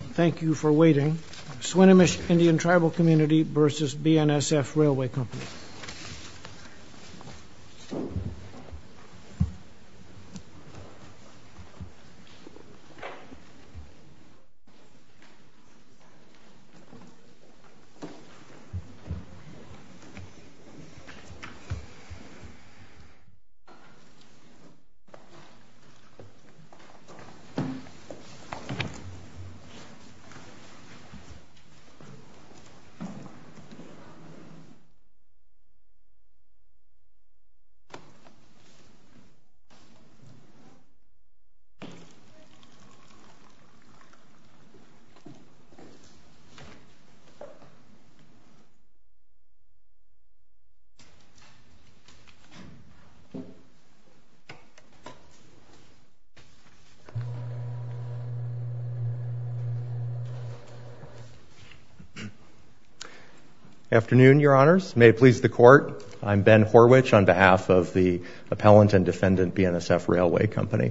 Thank you for waiting. Swinomish Indian Tribal Cmty v. BNSF Railway Company Thank you for waiting. Swinomish Indian Tribal Cmty v. BNSF Railway Company Good afternoon, Your Honors. May it please the Court, I'm Ben Horwich on behalf of the Appellant and Defendant BNSF Railway Company.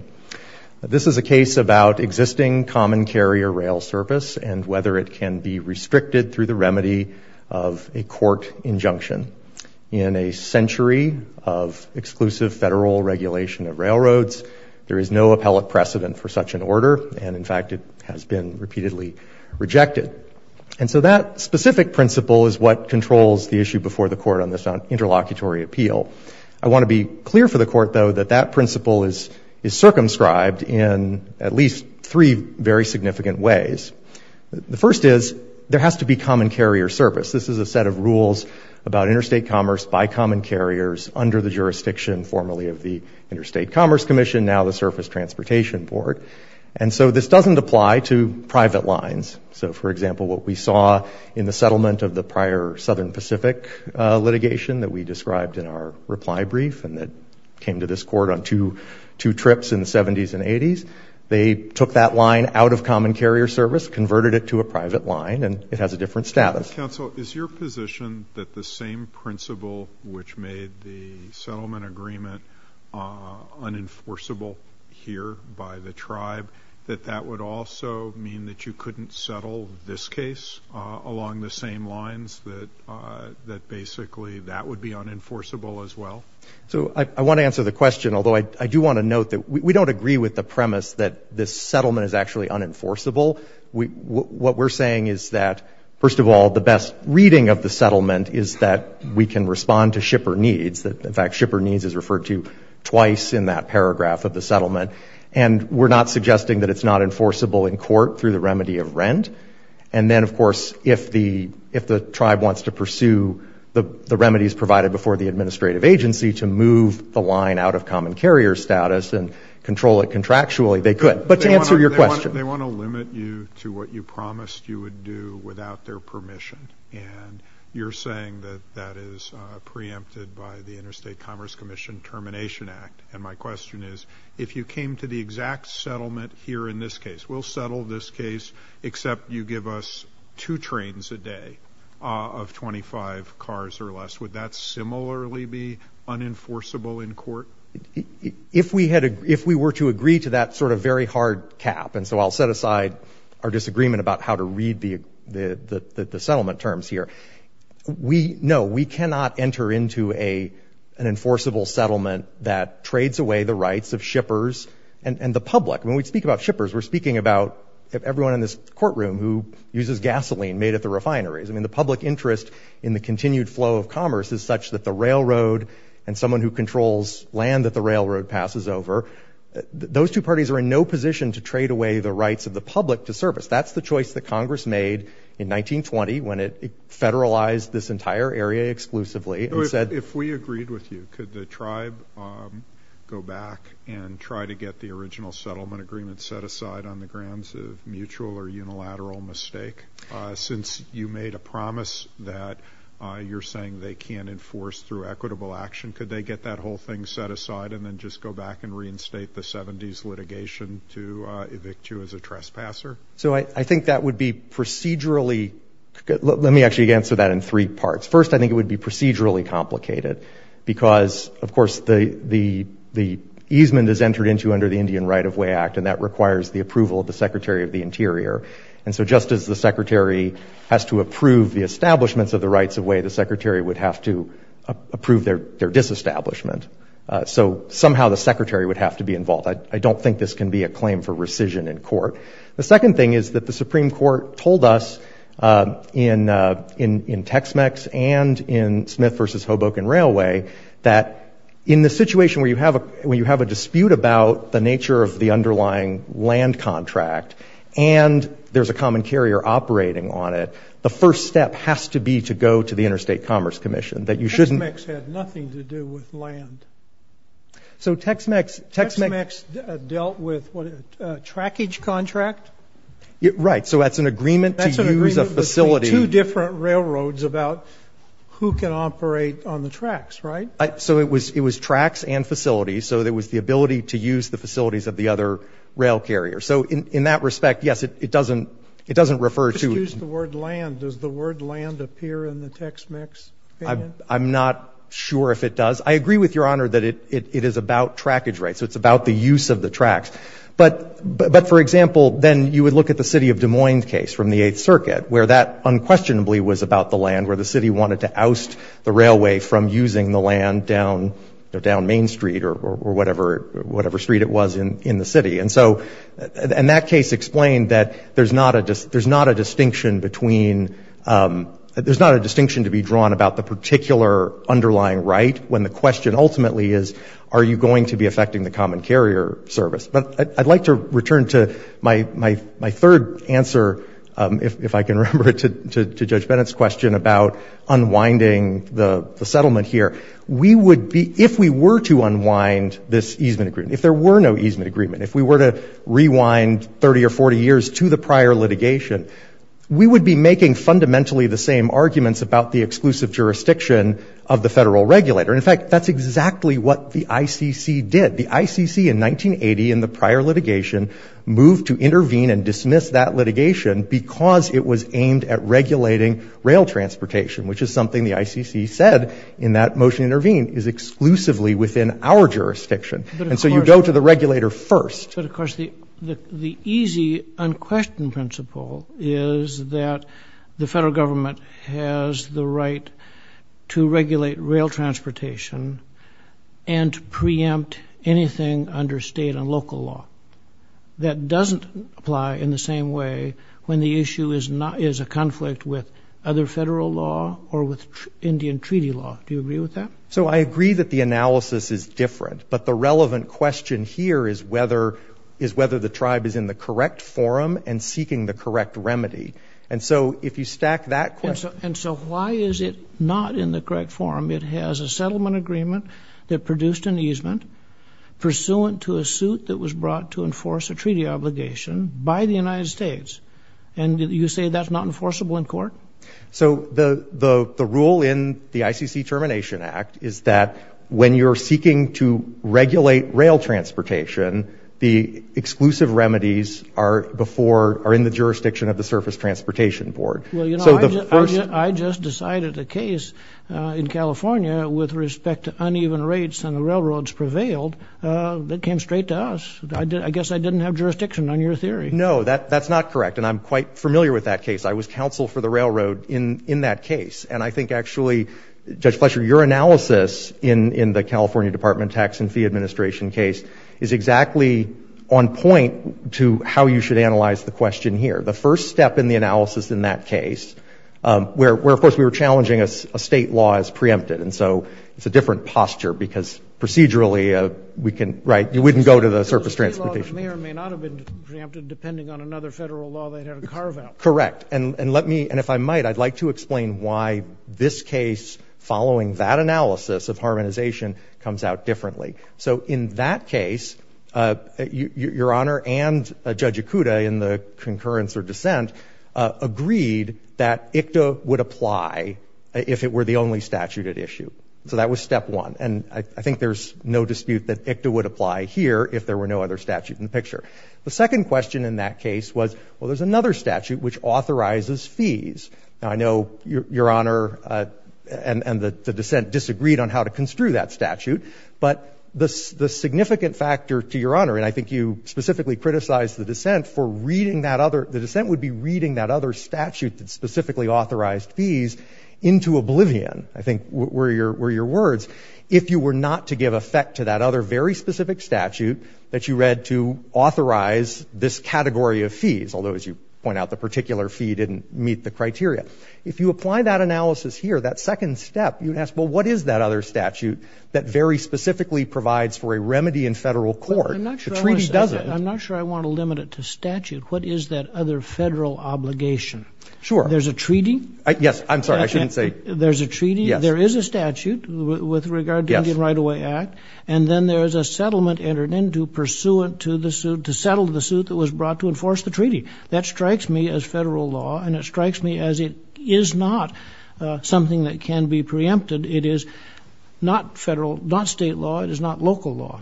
This is a case about existing common carrier rail service and whether it can be restricted through the remedy of a court injunction. In a century of exclusive federal regulation of railroads, there is no appellate precedent for such an order, and in fact it has been repeatedly rejected. And so that specific principle is what controls the issue before the Court on this interlocutory appeal. I want to be clear for the Court, though, that that principle is circumscribed in at least three very significant ways. The first is there has to be common carrier service. This is a set of rules about interstate commerce by common carriers under the jurisdiction formerly of the Interstate Commerce Commission, now the Surface Transportation Board. And so this doesn't apply to private lines. So, for example, what we saw in the settlement of the prior Southern Pacific litigation that we described in our reply brief and that came to this Court on two trips in the 70s and 80s, they took that line out of common carrier service, converted it to a private line, and it has a different status. Counsel, is your position that the same principle which made the settlement agreement unenforceable here by the tribe, that that would also mean that you couldn't settle this case along the same lines, that basically that would be unenforceable as well? So I want to answer the question, although I do want to note that we don't agree with the premise that this settlement is actually unenforceable. What we're saying is that, first of all, the best reading of the settlement is that we can respond to shipper needs, that in fact shipper needs is referred to twice in that paragraph of the settlement. And we're not suggesting that it's not enforceable in court through the remedy of rent. And then, of course, if the tribe wants to pursue the remedies provided before the administrative agency to move the line out of common carrier status and control it contractually, they could. But to answer your question. They want to limit you to what you promised you would do without their permission. And you're saying that that is preempted by the Interstate Commerce Commission Termination Act. And my question is, if you came to the exact settlement here in this case, we'll settle this case, except you give us two trains a day of 25 cars or less, would that similarly be unenforceable in court? If we were to agree to that sort of very hard cap, and so I'll set aside our disagreement about how to read the settlement terms here. No, we cannot enter into an enforceable settlement that trades away the rights of shippers and the public. When we speak about shippers, we're speaking about everyone in this courtroom who uses gasoline made at the refineries. I mean, the public interest in the continued flow of commerce is such that the railroad and someone who controls land that the railroad passes over, those two parties are in no position to trade away the rights of the public to service. That's the choice that Congress made in 1920 when it federalized this entire area exclusively. If we agreed with you, could the tribe go back and try to get the original settlement agreement set aside on the grounds of mutual or unilateral mistake? Since you made a promise that you're saying they can't enforce through equitable action, could they get that whole thing set aside and then just go back and reinstate the 70s litigation to evict you as a trespasser? So I think that would be procedurally... Let me actually answer that in three parts. First, I think it would be procedurally complicated because, of course, the easement is entered into under the Indian Right-of-Way Act, and that requires the approval of the Secretary of the Interior. And so just as the Secretary has to approve the establishments of the rights of way, the Secretary would have to approve their disestablishment. So somehow the Secretary would have to be involved. I don't think this can be a claim for rescission in court. The second thing is that the Supreme Court told us in Tex-Mex and in Smith v. Hoboken Railway that in the situation where you have a dispute about the nature of the underlying land contract and there's a common carrier operating on it, the first step has to be to go to the Interstate Commerce Commission, that you shouldn't... Tex-Mex had nothing to do with land. So Tex-Mex... Tex-Mex dealt with, what, a trackage contract? Right. So that's an agreement to use a facility... That's an agreement between two different railroads about who can operate on the tracks, right? So it was tracks and facilities. So there was the ability to use the facilities of the other rail carrier. So in that respect, yes, it doesn't refer to... Excuse the word land. Does the word land appear in the Tex-Mex? I'm not sure if it does. I agree with Your Honor that it is about trackage rights. So it's about the use of the tracks. But, for example, then you would look at the City of Des Moines case from the Eighth Circuit, where that unquestionably was about the land, where the city wanted to oust the railway from using the land down Main Street or whatever street it was in the city. And so in that case explained that there's not a distinction between... There's not a distinction to be drawn about the particular underlying right when the question ultimately is, are you going to be affecting the common carrier service? But I'd like to return to my third answer, if I can remember it, to Judge Bennett's question about unwinding the settlement here. We would be... If we were to unwind this easement agreement, if there were no easement agreement, if we were to rewind 30 or 40 years to the prior litigation, we would be making fundamentally the same arguments about the exclusive jurisdiction of the federal regulator. In fact, that's exactly what the ICC did. The ICC in 1980, in the prior litigation, moved to intervene and dismiss that litigation because it was aimed at regulating rail transportation, which is something the ICC said in that motion intervene is exclusively within our jurisdiction. And so you go to the regulator first. But of course, the easy unquestioned principle is that the federal government has the right to regulate rail transportation and to preempt anything under state and local law that doesn't apply in the same way when the issue is a conflict with other federal law or with Indian treaty law. Do you agree with that? So I agree that the analysis is different, but the relevant question here is whether the tribe is in the correct forum and seeking the correct remedy. And so if you stack that question... And so why is it not in the correct forum? It has a settlement agreement that produced an easement pursuant to a suit that was brought to enforce a treaty obligation by the United States. And you say that's not enforceable in court? So the rule in the ICC Termination Act is that when you're seeking to regulate rail transportation, the exclusive remedies are in the jurisdiction of the Surface Transportation Board. Well, you know, I just decided a case in California with respect to uneven rates on the railroads prevailed that came straight to us. I guess I didn't have jurisdiction on your theory. No, that's not correct. And I'm quite familiar with that case. I was counsel for the railroad in that case. And I think actually, Judge Fletcher, your analysis in the California Department of Tax and Fee Administration case is exactly on point to how you should analyze the question here. The first step in the analysis in that case where, of course, we were challenging a state law as preempted. And so it's a different posture because procedurally we can, right, you wouldn't go to the Surface Transportation Board. It may or may not have been preempted depending on another federal law they had to carve out. Correct. And let me, and if I might, I'd like to explain why this case, following that analysis of harmonization, comes out differently. So in that case, Your Honor and Judge Ikuda in the concurrence or dissent agreed that ICTA would apply if it were the only statute at issue. So that was step one. And I think there's no dispute that ICTA would apply in the picture. The second question in that case was, well, there's another statute which authorizes fees. Now, I know Your Honor and the dissent disagreed on how to construe that statute. But the significant factor to Your Honor, and I think you specifically criticized the dissent for reading that other, the dissent would be reading that other statute that specifically authorized fees into oblivion, I think were your words, if you were not to give effect to that other very specific statute that you read to authorize this category of fees, although, as you point out, the particular fee didn't meet the criteria. If you apply that analysis here, that second step, you'd ask, well, what is that other statute that very specifically provides for a remedy in federal court? The treaty does it. I'm not sure I want to limit it to statute. What is that other federal obligation? Sure. There's a treaty? Yes. I'm sorry. I shouldn't say. There's a treaty? Yes. So there is a statute with regard to the Indian Right-of-Way Act, and then there's a settlement entered into pursuant to the suit, to settle the suit that was brought to enforce the treaty. That strikes me as federal law, and it strikes me as it is not something that can be preempted. It is not federal, not state law. It is not local law.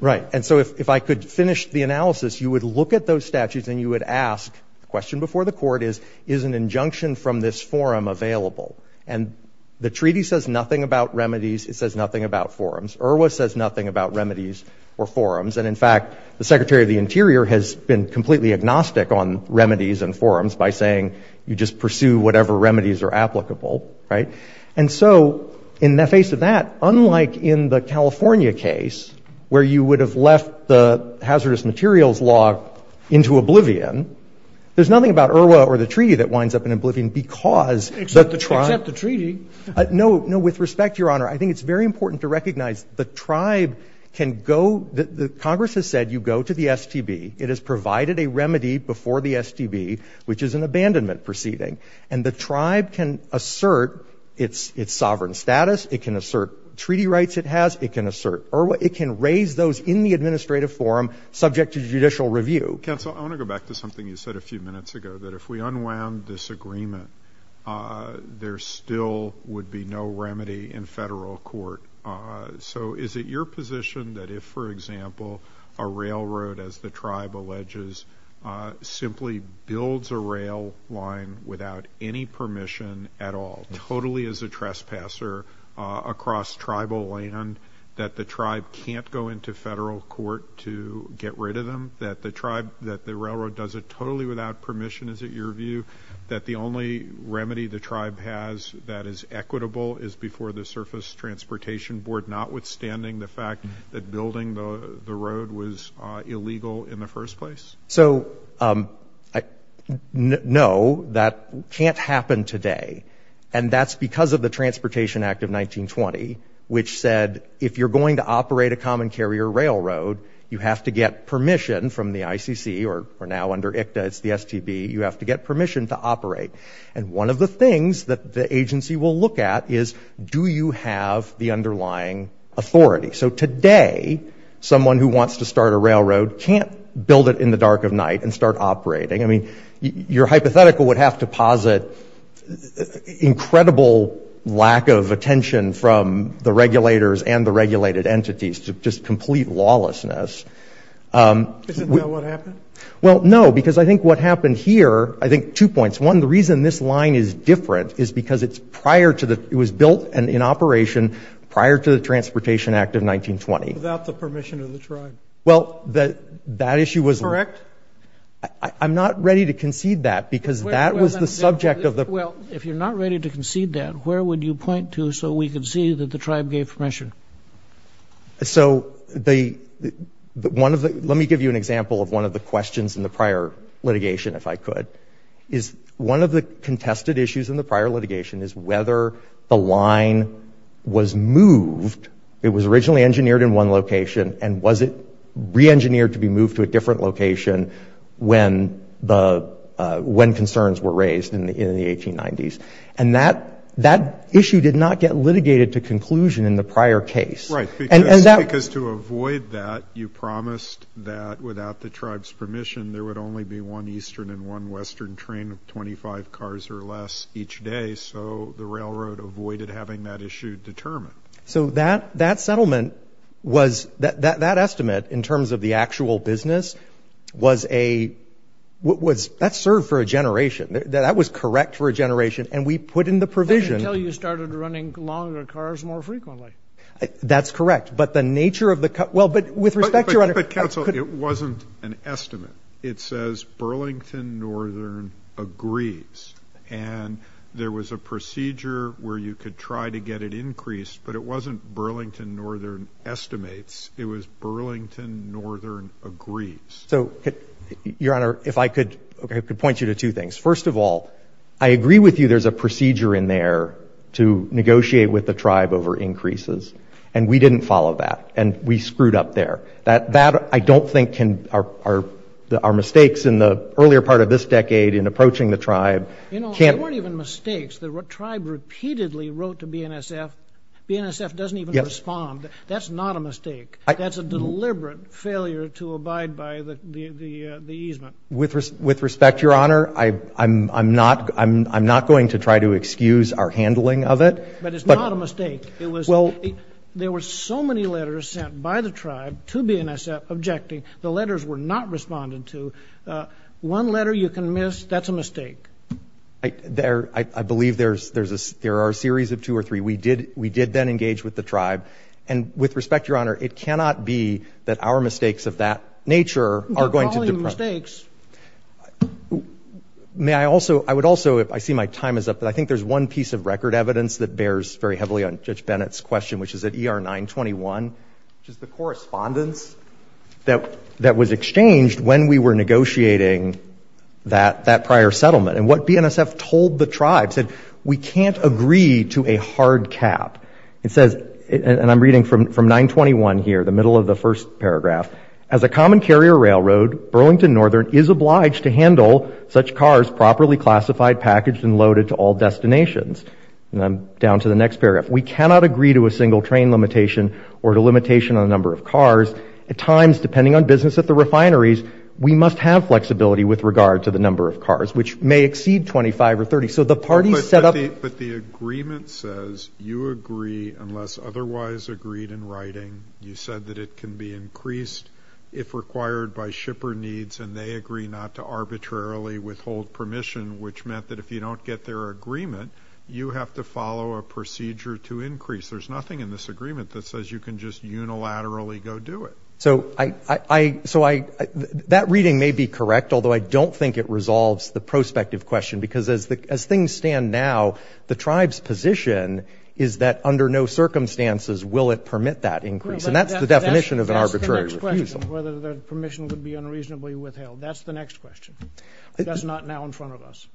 Right. And so if I could finish the analysis, you would look at those statutes, and you would ask, the question before the court is, is an injunction from this forum available? And the treaty says nothing about remedies. It says nothing about forums. IRWA says nothing about remedies or forums. And in fact, the Secretary of the Interior has been completely agnostic on remedies and forums by saying, you just pursue whatever remedies are applicable. Right? And so in the face of that, unlike in the California case, where you would have left the hazardous materials law into oblivion, there's nothing about IRWA or the treaty that winds up in oblivion because the tribe Except the treaty. No, no. With respect, Your Honor, I think it's very important to recognize the tribe can go, the Congress has said you go to the STB. It has provided a remedy before the STB, which is an abandonment proceeding. And the tribe can assert its sovereign status. It can assert treaty rights it has. It can assert IRWA. It can raise those in the administrative forum subject to judicial review. Counsel, I want to go back to something you said a few minutes ago, that if we unwound this agreement, there still would be no remedy in federal court. So is it your position that if, for example, a railroad, as the tribe alleges, simply builds a rail line without any permission at all, totally as a trespasser across tribal land, that the tribe can't go into federal court to get rid of them? That the tribe, that the railroad does it totally without permission, is it your view that the only remedy the tribe has that is equitable is before the Surface Transportation Board, notwithstanding the fact that building the road was illegal in the first place? So no, that can't happen today. And that's because of the Transportation Act of 1920, which said if you're going to operate a common carrier railroad, you have to get permission from the ICC, or now under ICTA, it's the STB, you have to get permission to operate. And one of the things that the agency will look at is, do you have the underlying authority? So today, someone who wants to start a railroad can't build it in the dark of night and start operating. I mean, your hypothetical would have to posit incredible lack of attention from the regulators and the regulated entities, just complete lawlessness. Isn't that what happened? Well, no, because I think what happened here, I think two points. One, the reason this line is different is because it's prior to the, it was built and in operation prior to the Transportation Act of 1920. Without the permission of the tribe. Well, that issue was Correct? I'm not ready to concede that, because that was the subject of the Well, if you're not ready to concede that, where would you point to so we could see that the tribe gave permission? So the, one of the, let me give you an example of one of the questions in the prior litigation, if I could, is one of the contested issues in the prior litigation is whether the line was moved. It was originally engineered in one location, and was it reengineered to be And that, that issue did not get litigated to conclusion in the prior case. Right, because to avoid that, you promised that without the tribe's permission, there would only be one Eastern and one Western train of 25 cars or less each day. So the railroad avoided having that issue determined. So that, that settlement was, that estimate in terms of the actual business was a, was, that served for a generation. That was correct for a generation. And we put in the provision Until you started running longer cars more frequently. That's correct. But the nature of the, well, but with respect, Your Honor But, but, but counsel, it wasn't an estimate. It says Burlington Northern agrees. And there was a procedure where you could try to get it increased, but it wasn't Burlington Northern estimates. It was Burlington Northern agrees. So, Your Honor, if I could, I could point you to two things. First of all, I agree with you there's a procedure in there to negotiate with the tribe over increases. And we didn't follow that. And we screwed up there. That, that I don't think can, our, our, our mistakes in the earlier part of this decade in approaching the tribe can't You know, they weren't even mistakes. The tribe repeatedly wrote to BNSF. BNSF doesn't even respond. That's not a mistake. That's a deliberate failure to abide by the, the, the easement. With respect, Your Honor, I, I'm, I'm not, I'm, I'm not going to try to excuse our handling of it. But it's not a mistake. It was, well, there were so many letters sent by the tribe to BNSF objecting. The letters were not responded to. One letter you can miss. That's a mistake. There, I believe there's, there's a, there are a series of two or three. We did, we did then engage with the tribe. And with respect, Your Honor, it cannot be that our mistakes of that nature are going to You're calling them mistakes. May I also, I would also, if I see my time is up, but I think there's one piece of record evidence that bears very heavily on Judge Bennett's question, which is at ER 921, which is the correspondence that, that was exchanged when we were negotiating that, that prior settlement. And what BNSF told the tribe said, we can't agree to a hard cap. It says, and I'm reading from, from 921 here, the middle of the first paragraph, as a common carrier railroad, Burlington Northern is obliged to handle such cars properly classified, packaged and loaded to all destinations. And I'm down to the next paragraph. We cannot agree to a single train limitation or to limitation on the number of cars. At times, depending on business at the refineries, we must have may exceed 25 or 30. So the parties set up But the agreement says you agree, unless otherwise agreed in writing, you said that it can be increased if required by shipper needs, and they agree not to arbitrarily withhold permission, which meant that if you don't get their agreement, you have to follow a procedure to increase. There's nothing in this agreement that says you can just unilaterally go do it. So I, I, I, so I, that reading may be correct, although I don't think it resolves the prospective question, because as the, as things stand now, the tribe's position is that under no circumstances will it permit that increase. And that's the definition of an arbitrary refusal. That's the next question, whether the permission would be unreasonably withheld. That's the next question. That's not now in front of us.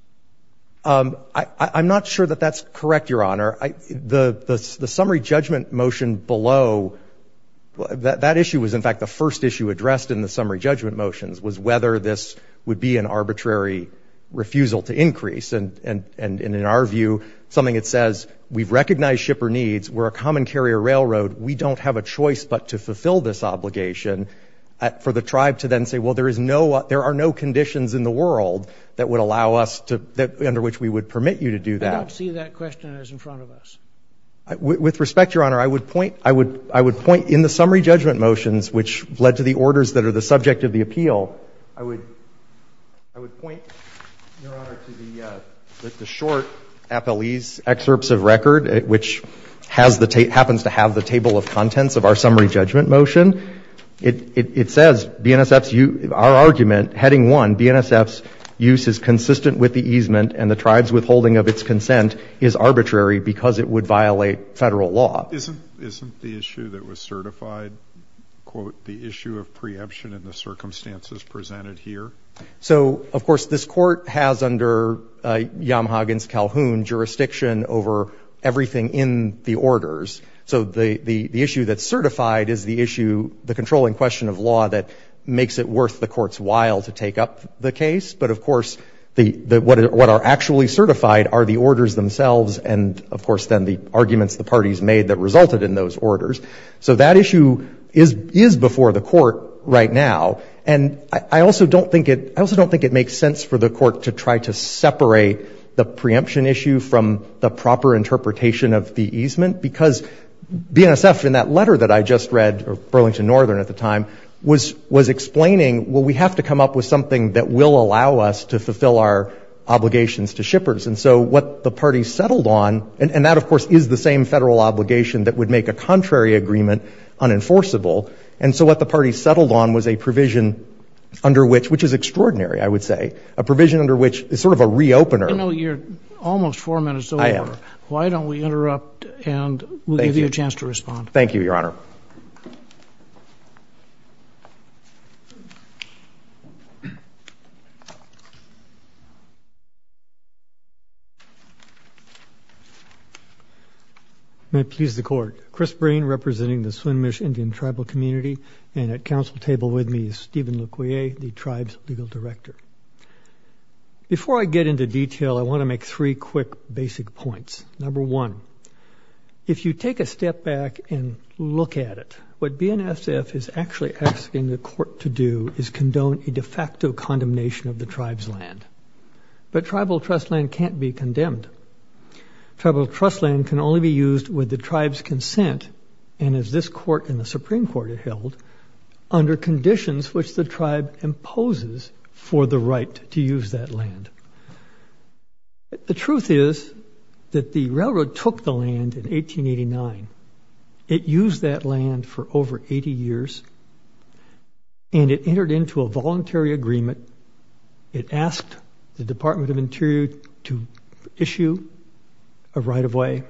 I, I'm not sure that that's correct, Your Honor. I, the, the, the summary judgment motion below, that, that issue was in fact the first issue addressed in the summary judgment motions, was whether this would be an arbitrary refusal to increase. And, and, and in our view, something that says we've recognized shipper needs, we're a common carrier railroad, we don't have a choice but to fulfill this obligation for the tribe to then say, well, there is no, there are no conditions in the world that would allow us to, under which we would permit you to do that. I don't see that question as in front of us. With respect, Your Honor, I would point, I would, I would point in the summary judgment motions, which led to the orders that are the subject of the appeal, I would, I would point, Your Honor, to the, the short appellee's excerpts of record, which has the, happens to have the table of contents of our summary judgment motion. It says BNSF's use, our argument, heading one, BNSF's use is consistent with the easement and the tribe's withholding of its consent is arbitrary because it would violate federal law. Isn't, isn't the issue that was certified, quote, the issue of preemption in the circumstances presented here? So of course, this court has under Yamhagen's Calhoun jurisdiction over everything in the orders. So the, the, the issue that's certified is the issue, the controlling question of law that makes it worth the court's while to take up the case. But of course, the, the, what are, what are actually certified are the orders themselves and of course, then the arguments the parties made that resulted in those orders. So that issue is, is before the court right now. And I, I also don't think it, I also don't think it makes sense for the court to try to separate the preemption issue from the proper interpretation of the easement because BNSF, in that letter that I just read, Burlington Northern at the time, was, was explaining, well, we have to come up with something that will allow us to fulfill our obligations to shippers. And so what the party settled on, and that of course is the same federal obligation that would make a contrary agreement unenforceable. And so what the party settled on was a provision under which, which is extraordinary, I would say, a provision under which is sort of a re-opener. You know, you're almost four minutes over. I am. Why don't we interrupt and we'll give you a chance to respond. Thank you, Your Honor. May it please the court. Chris Breen representing the Swinomish Indian Tribal Community and at council table with me is Stephen Leclerc, the tribe's legal director. Before I get into detail, I want to make three quick basic points. Number one, if you take a step back and look at it, what BNSF is actually asking the court to do is condone a de facto condemnation of the tribe's land. But tribal trust land can't be condemned. Tribal trust land can only be used with the tribe's consent and as this court in the Supreme Court had held, under conditions which the tribe imposes for the right to use that land. The truth is that the railroad took the land in 1889. It used that land for over 80 years and it entered into a voluntary agreement. It asked the Department of Interior to issue a right of way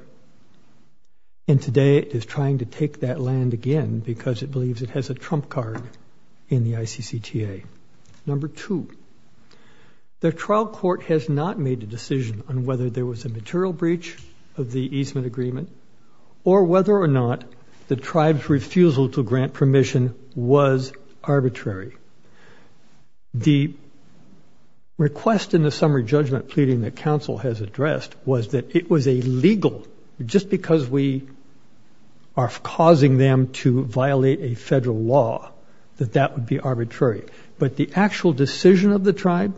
and today it is trying to take that land again because it believes it has a trump card in the ICCTA. Number two, the trial court has not made a decision on whether there was a material breach of the easement agreement or whether or not the tribe's refusal to grant permission was arbitrary. The request in the summary judgment pleading that council has addressed was that it was illegal just because we are causing them to violate a federal law that that would be arbitrary. But the actual decision of the tribe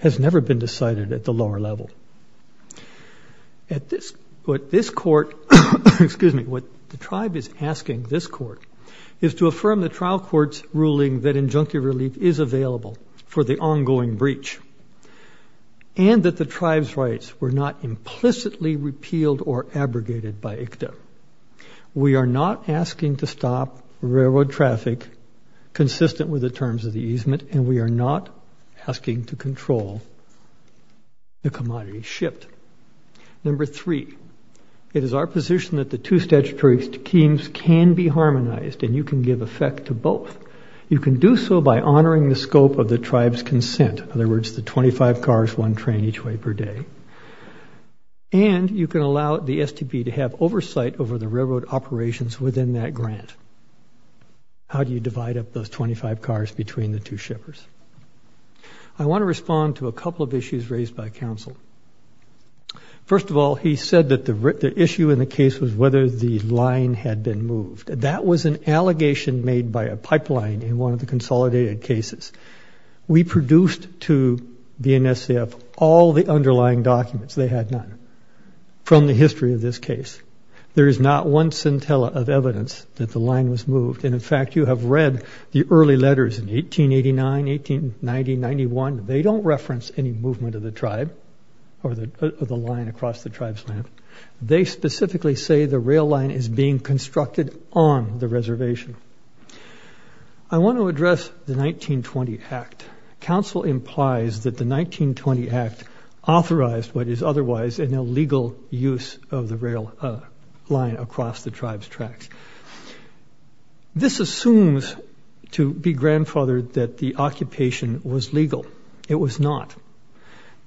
has never been decided at the lower level. What the tribe is asking this court is to affirm the trial court's ruling that injunctive relief is available for the ongoing breach and that the tribe's rights were not implicitly repealed or abrogated by ICCTA. We are not asking to stop railroad traffic consistent with the terms of the easement and we are not asking to control the commodities shipped. Number three, it is our position that the two statutory schemes can be harmonized and you can give effect to both. You can do so by honoring the scope of the tribe's consent, in other words, the 25 cars, one train each way per day, and you can allow the STB to have those 25 cars between the two shippers. I want to respond to a couple of issues raised by council. First of all, he said that the issue in the case was whether the line had been moved. That was an allegation made by a pipeline in one of the consolidated cases. We produced to BNSF all the underlying documents, they had none, from the history of this case. There is not one centella of evidence that the line was moved and in fact you have read the early letters in 1889, 1890, 91, they don't reference any movement of the tribe or the line across the tribe's land. They specifically say the rail line is being constructed on the reservation. I want to address the 1920 act. Council implies that the 1920 act authorized what is otherwise an illegal use of the rail line across the tribe's tracks. This assumes to be grandfathered that the occupation was legal. It was not.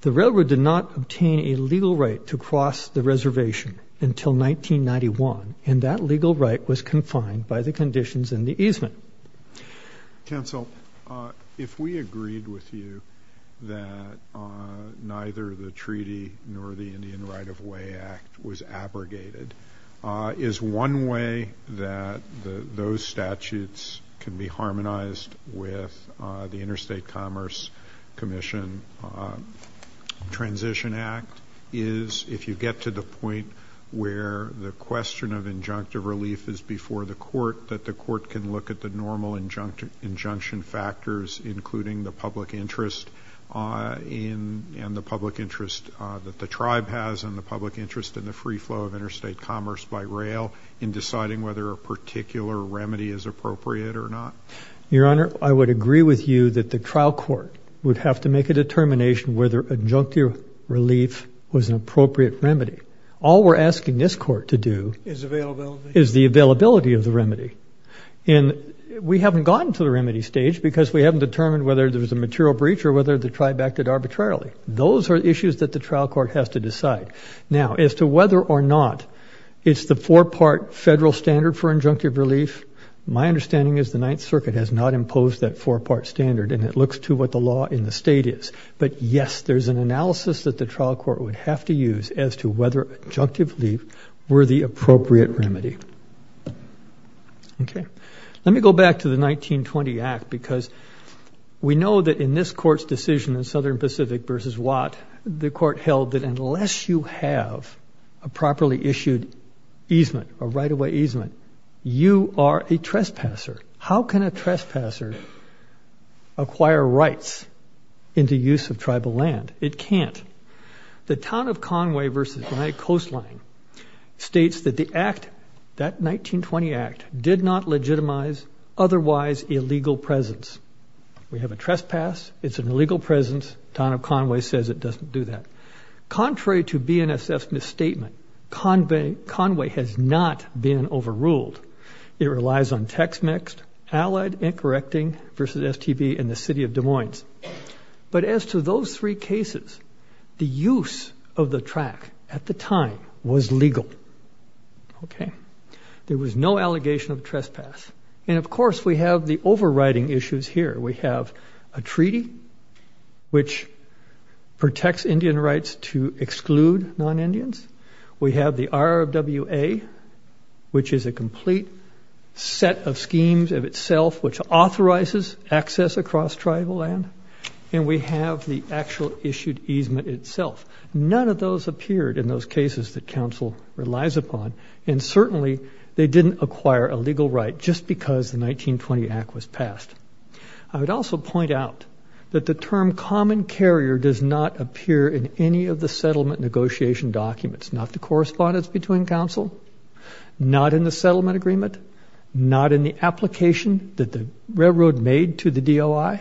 The railroad did not obtain a legal right to cross the reservation until 1991 and that legal right was confined by the conditions in the easement. Council, if we agreed with you that neither the treaty nor the Indian right of way act was abrogated, is one way that those statutes can be harmonized with the interstate commerce commission transition act is if you get to the point where the question of injunctive relief is before the court that the court can look at the normal injunction injunction factors including the public interest in and the public interest that the tribe has and the public interest in the free flow of interstate commerce by rail in deciding whether a particular remedy is appropriate or not? Your honor, I would agree with you that the trial court would have to make a determination whether injunctive relief was an appropriate remedy. All we're asking this court to is the availability of the remedy and we haven't gotten to the remedy stage because we haven't determined whether there was a material breach or whether the tribe acted arbitrarily. Those are issues that the trial court has to decide. Now as to whether or not it's the four-part federal standard for injunctive relief, my understanding is the ninth circuit has not imposed that four-part standard and it looks to what the law in the state is. But yes, there's an analysis that the trial court would have to use as to whether injunctive relief were the appropriate remedy. Okay, let me go back to the 1920 act because we know that in this court's decision in Southern Pacific versus Watt, the court held that unless you have a properly issued easement, a right-of-way easement, you are a trespasser. How can a trespasser acquire rights into use of tribal land? It can't. The town of Conway versus my coastline states that the act, that 1920 act, did not legitimize otherwise illegal presence. We have a trespass, it's an illegal presence, town of Conway says it doesn't do that. Contrary to BNSF's misstatement, Conway has not been overruled. It relies on text mixed, allied and correcting versus STB in the city of Des Moines. But as to those three cases, the use of the track at the time was legal. Okay, there was no allegation of trespass. And of course, we have the overriding issues here. We have a treaty which protects Indian rights to exclude non-Indians. We have the RWA, which is a complete set of schemes of itself, which authorizes access across tribal land. And we have the actual issued easement itself. None of those appeared in those cases that council relies upon. And certainly they didn't acquire a legal right just because the 1920 act was passed. I would also point out that the term common carrier does not appear in any of the settlement negotiation documents, not the correspondence between council, not in the settlement agreement, not in the application that the railroad made to the DOI,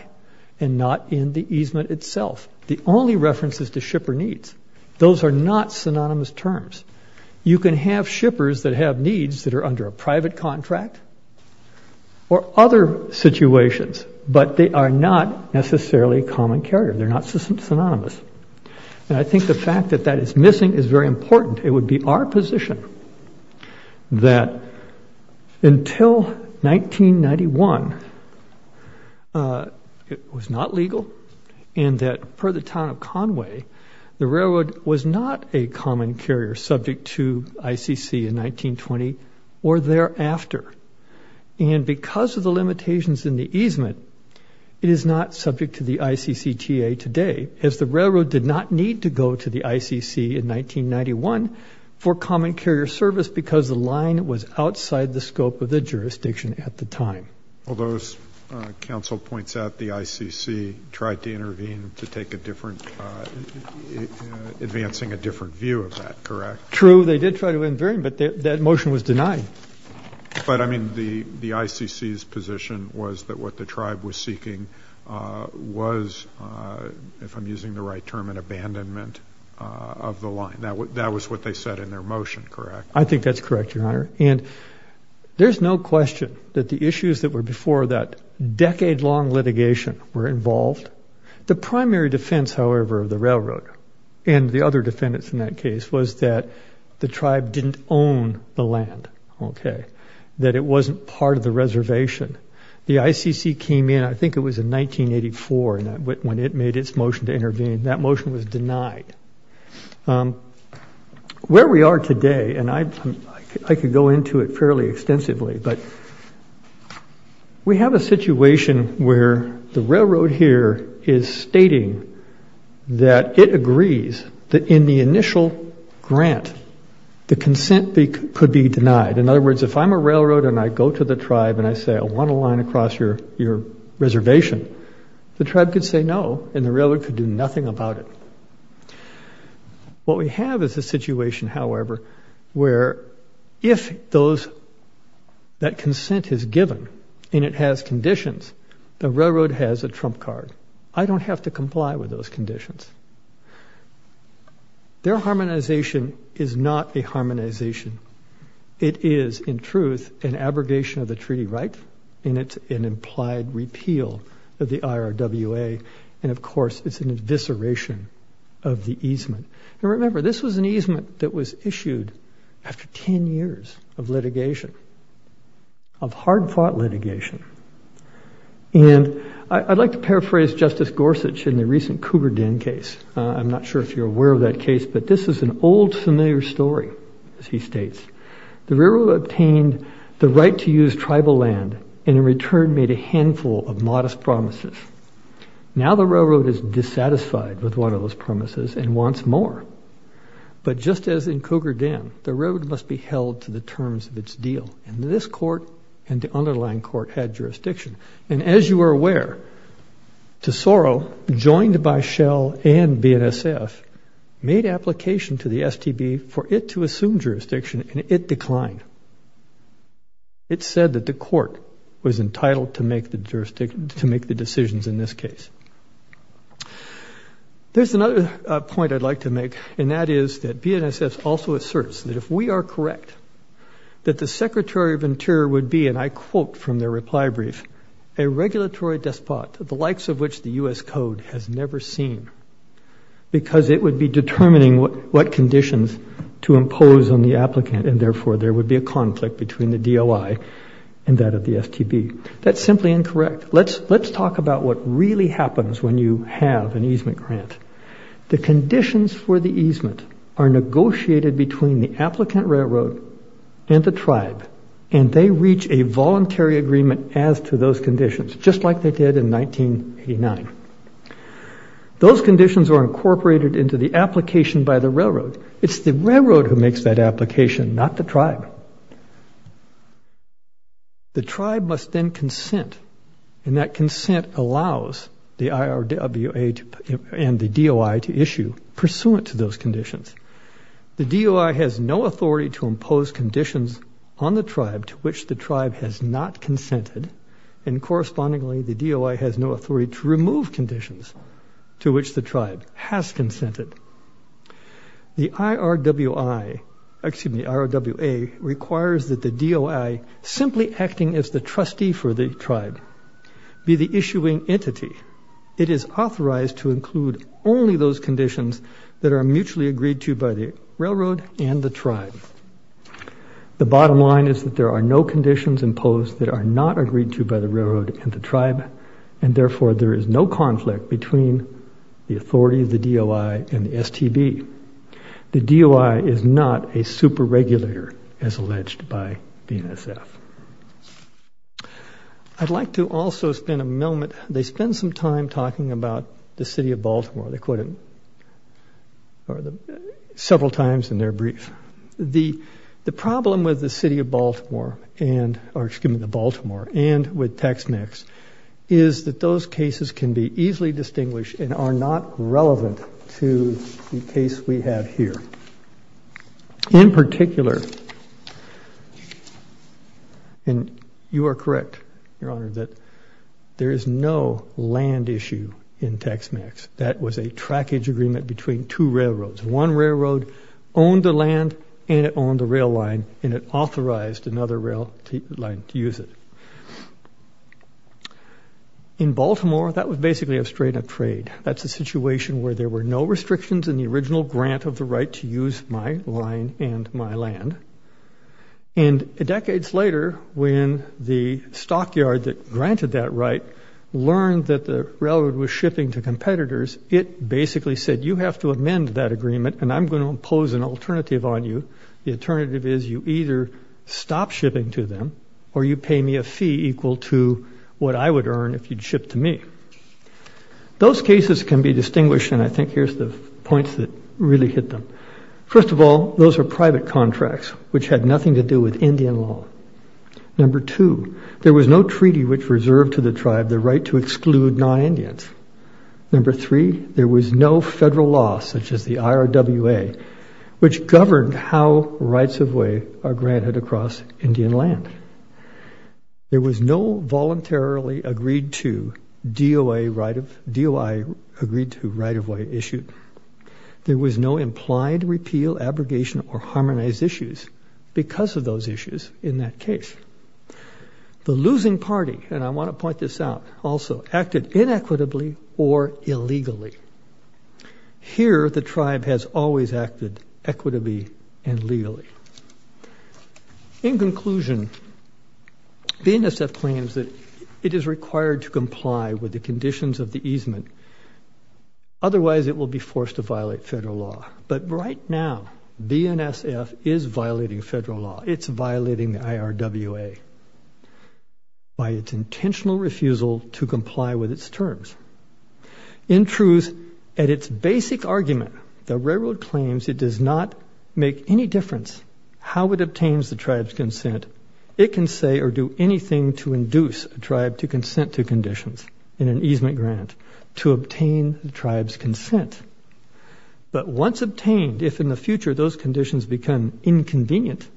and not in the easement itself. The only references to shipper needs, those are not synonymous terms. You can have shippers that have needs that are under a private contract or other situations, but they are not necessarily common carrier. They're not synonymous. And I think the fact that that is missing is very important. It would be our position that until 1991, it was not legal and that per the town of Conway, the railroad was not a common carrier subject to ICC in 1920 or thereafter. And because of the limitations in the easement, it is not subject to the ICCTA today, as the railroad did not need to go to the ICC in 1991 for common carrier service because the line was outside the scope of the jurisdiction at the time. Although as council points out, the ICC tried to intervene to take a different, advancing a different view of that, correct? True. They did try to intervene, but that motion was denied. But I mean, the ICC's position was that what the tribe was seeking was, if I'm using the right term, an abandonment of the line. That was what they said in their motion, correct? I think that's correct, Your Honor. And there's no question that the issues that were before that decade-long litigation were involved. The primary defense, however, of the railroad and the other defendants in that case was that the tribe didn't own the land. Okay. That it wasn't part of the reservation. The ICC came in, I think it was in 1984 when it made its motion to intervene. That motion was denied. Where we are today, and I could go into it fairly extensively, but we have a situation where the railroad here is stating that it agrees that in the initial grant, the consent could be denied. In other words, if I'm a railroad and I go to the tribe and I say, I want a line across your reservation, the tribe could say no and the railroad could do nothing about it. What we have is a situation, however, where if that consent is given and it has conditions, the railroad has a trump card. I don't have to comply with those conditions. Their harmonization is not a harmonization. It is, in truth, an abrogation of the treaty right, and it's an implied repeal of the IRWA. And of course, it's an evisceration of the easement. And remember, this was an easement that was issued after 10 years of litigation, of hard-fought litigation. And I'd like to paraphrase Justice Gorsuch in the recent Cougar Den case. I'm not sure if you're aware of that case, but this is an old familiar story, as he states. The railroad obtained the right to use tribal land and in return made a handful of modest promises. Now the railroad is dissatisfied with one of those promises and wants more. But just as in Cougar Den, the road must be held to the terms of its deal, and this court and the BNSF made application to the STB for it to assume jurisdiction, and it declined. It said that the court was entitled to make the decisions in this case. There's another point I'd like to make, and that is that BNSF also asserts that if we are correct, that the Secretary of Interior would be, and I quote from their reply brief, a regulatory despot, the likes of which the U.S. Code has never seen, because it would be determining what conditions to impose on the applicant, and therefore there would be a conflict between the DOI and that of the STB. That's simply incorrect. Let's talk about what really happens when you have an easement grant. The conditions for the easement are negotiated between the conditions, just like they did in 1989. Those conditions are incorporated into the application by the railroad. It's the railroad who makes that application, not the tribe. The tribe must then consent, and that consent allows the IRWA and the DOI to issue pursuant to those conditions. The DOI has no authority to impose conditions on the tribe to which the tribe has not consented, and correspondingly the DOI has no authority to remove conditions to which the tribe has consented. The IRWA requires that the DOI, simply acting as the trustee for the tribe, be the issuing entity. It is authorized to include only those conditions that are mutually agreed to by the railroad and the tribe. The bottom line is that there are no conditions imposed that are not agreed to by the railroad and the tribe, and therefore there is no conflict between the authority of the DOI and the STB. The DOI is not a super regulator, as alleged by BNSF. I'd like to also spend a moment, they spend some time talking about the city of Baltimore. They quote it several times in their brief. The problem with the city of Baltimore and, or excuse me, the Baltimore and with Tex-Mex is that those cases can be easily distinguished and are not relevant to the case we have here. In particular, and you are correct, your honor, that there is no land issue in Tex-Mex. That was a trackage agreement between two railroads. One railroad owned the land and it owned the rail line, and it authorized another rail line to use it. In Baltimore, that was basically a straight-up trade. That's a situation where there were no restrictions in the original grant of the right to use my line and my land. And decades later, when the stockyard that granted that right learned that the railroad was shipping to competitors, it basically said, you have to either stop shipping to them or you pay me a fee equal to what I would earn if you'd ship to me. Those cases can be distinguished, and I think here's the points that really hit them. First of all, those are private contracts which had nothing to do with Indian law. Number two, there was no treaty which reserved to the tribe the right to exclude non-Indians. Number three, there was no rights of way are granted across Indian land. There was no voluntarily agreed to DOI agreed to right-of-way issue. There was no implied repeal, abrogation, or harmonized issues because of those issues in that case. The losing party, and I want to point this out also, acted inequitably or illegally. Here, the tribe has always acted equitably and legally. In conclusion, BNSF claims that it is required to comply with the conditions of the easement. Otherwise, it will be forced to violate federal law. But right now, BNSF is violating federal law. It's violating the IRWA by its intentional refusal to comply with its terms. In truth, at its basic argument, the railroad claims it does not make any difference how it obtains the tribe's consent. It can say or do anything to induce a tribe to consent to conditions in an easement grant to obtain the tribe's consent. But once obtained, if in the future those conditions become inconvenient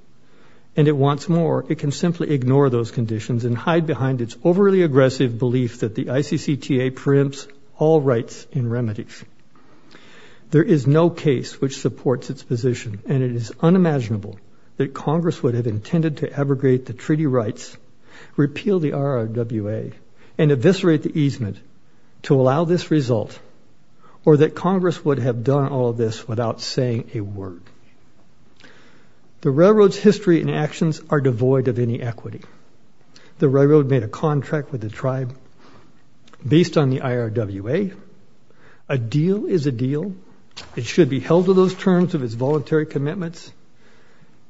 and it wants more, it can simply ignore those conditions and hide behind its overly aggressive belief that the ICCTA preempts all rights in remedies. There is no case which supports its position, and it is unimaginable that Congress would have intended to abrogate the treaty rights, repeal the IRWA, and eviscerate the easement to allow this result, or that Congress would have done all this without saying a word. The railroad's history and actions are devoid of any equity. The railroad made a contract with the tribe based on the IRWA. A deal is a deal. It should be held to those terms of its voluntary commitments,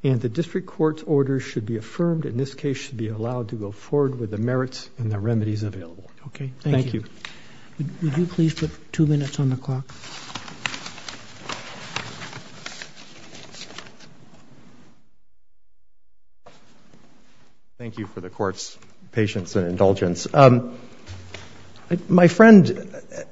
and the district court's orders should be affirmed. In this case, should be allowed to go forward with the merits and the remedies available. Okay, thank you. Would you please put two minutes on the clock? Thank you for the court's patience and indulgence. My friend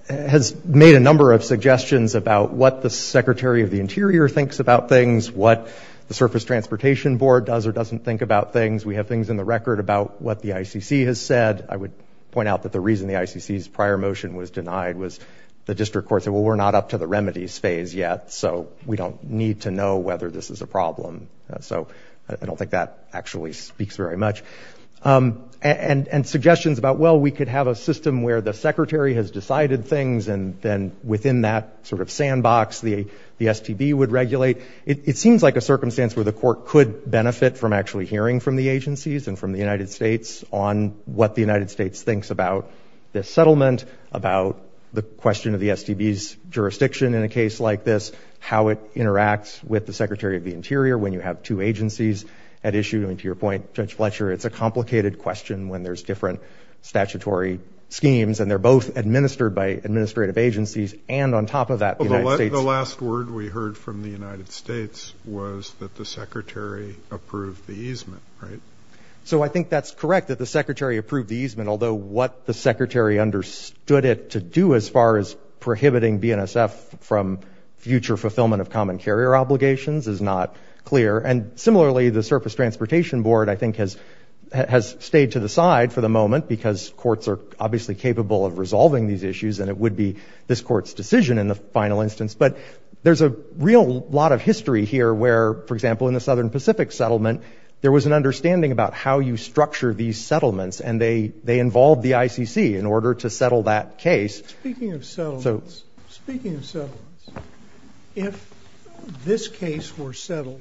has made a number of suggestions about what the Secretary of the Interior thinks about things, what the Surface Transportation Board does or doesn't think about things. We have things in the record about what the ICC has said. I would point out that the reason the ICC's prior motion was denied was the district court said, well, we're not up to the remedies phase yet, so we don't need to know whether this is a problem. So I don't think that actually speaks very much. And suggestions about, well, we could have a system where the Secretary has decided things, and then within that sort of sandbox, the STB would regulate. It seems like a circumstance where the court could benefit from actually hearing from the about this settlement, about the question of the STB's jurisdiction in a case like this, how it interacts with the Secretary of the Interior when you have two agencies at issue. I mean, to your point, Judge Fletcher, it's a complicated question when there's different statutory schemes, and they're both administered by administrative agencies. And on top of that, the United States— The last word we heard from the United States was that the Secretary approved the easement, right? So I think that's correct, that the Secretary approved the easement, although what the Secretary understood it to do as far as prohibiting BNSF from future fulfillment of common carrier obligations is not clear. And similarly, the Surface Transportation Board, I think, has stayed to the side for the moment because courts are obviously capable of resolving these issues, and it would be this court's decision in the final instance. But there's a real lot of history here where, for example, in the Southern Pacific settlement, there was an understanding about how you structure these settlements, and they involved the ICC in order to settle that case. Speaking of settlements, if this case were settled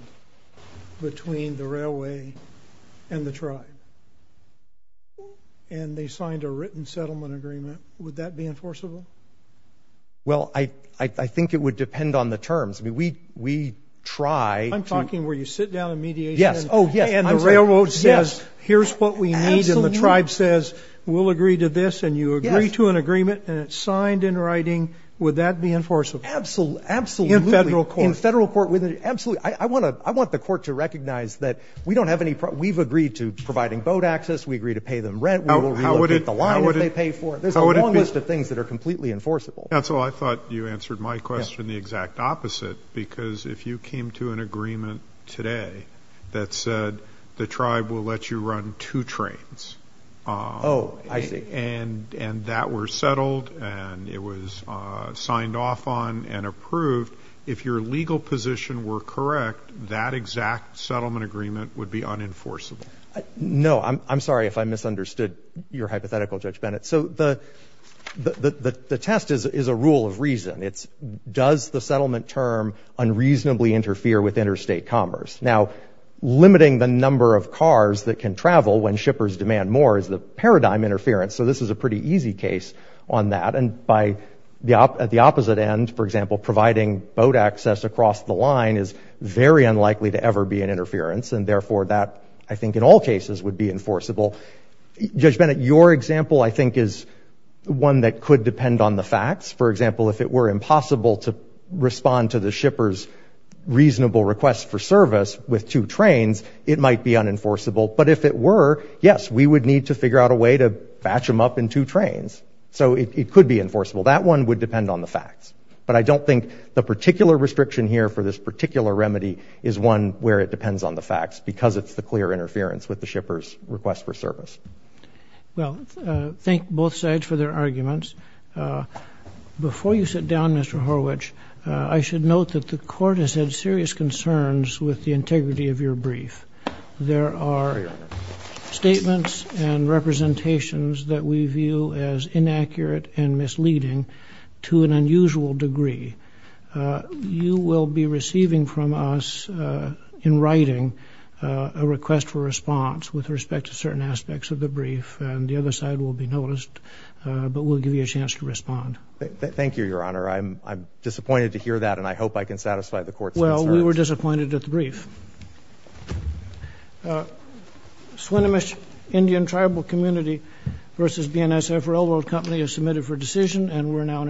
between the railway and the tribe, and they signed a written settlement agreement, would that be enforceable? Well, I think it would depend on the terms. I mean, we try to— I'm talking where you sit down and mediate. Yes. Oh, yes. And the railroad says, here's what we need, and the tribe says, we'll agree to this, and you agree to an agreement, and it's signed in writing. Would that be enforceable? Absolutely, absolutely. In federal court? In federal court, absolutely. I want the court to recognize that we don't have any—we've agreed to providing boat access, we agree to pay them rent, we will relocate the line if they pay for it. There's a long list of things that are completely enforceable. That's why I thought you answered my question the exact opposite, because if you came to an agreement today that said the tribe will let you run two trains— Oh, I see. —and that were settled, and it was signed off on and approved, if your legal position were correct, that exact settlement agreement would be unenforceable. No, I'm sorry if I misunderstood your hypothetical, Judge Bennett. So the test is a rule of reason. It's does the settlement term unreasonably interfere with interstate commerce? Now, limiting the number of cars that can travel when shippers demand more is the paradigm interference, so this is a pretty easy case on that. And at the opposite end, for example, providing boat access across the line is very unlikely to ever be an interference, and therefore that, I think, in all cases would be enforceable. Judge Bennett, your example, I think, is one that could depend on the facts. For example, if it were impossible to respond to the shipper's reasonable request for service with two trains, it might be unenforceable. But if it were, yes, we would need to figure out a way to batch them up in two trains, so it could be enforceable. That one would depend on the facts. But I don't think the particular restriction here for this particular remedy is one where it depends on the facts because it's the clear interference with the shipper's request for service. Well, thank both sides for their arguments. Before you sit down, Mr. Horwich, I should note that the Court has had serious concerns with the integrity of your brief. There are statements and representations that we view as inaccurate and misleading to an unusual degree. You will be receiving from us in writing a request for response with respect to certain aspects of the brief, and the other side will be noticed, but we'll give you a chance to respond. Thank you, Your Honor. I'm disappointed to hear that, and I hope I can satisfy the Court's concerns. Well, we were disappointed at the brief. Swinomish Indian Tribal Community v. BNSF Railroad Company is submitted for decision, and we're now in adjournment.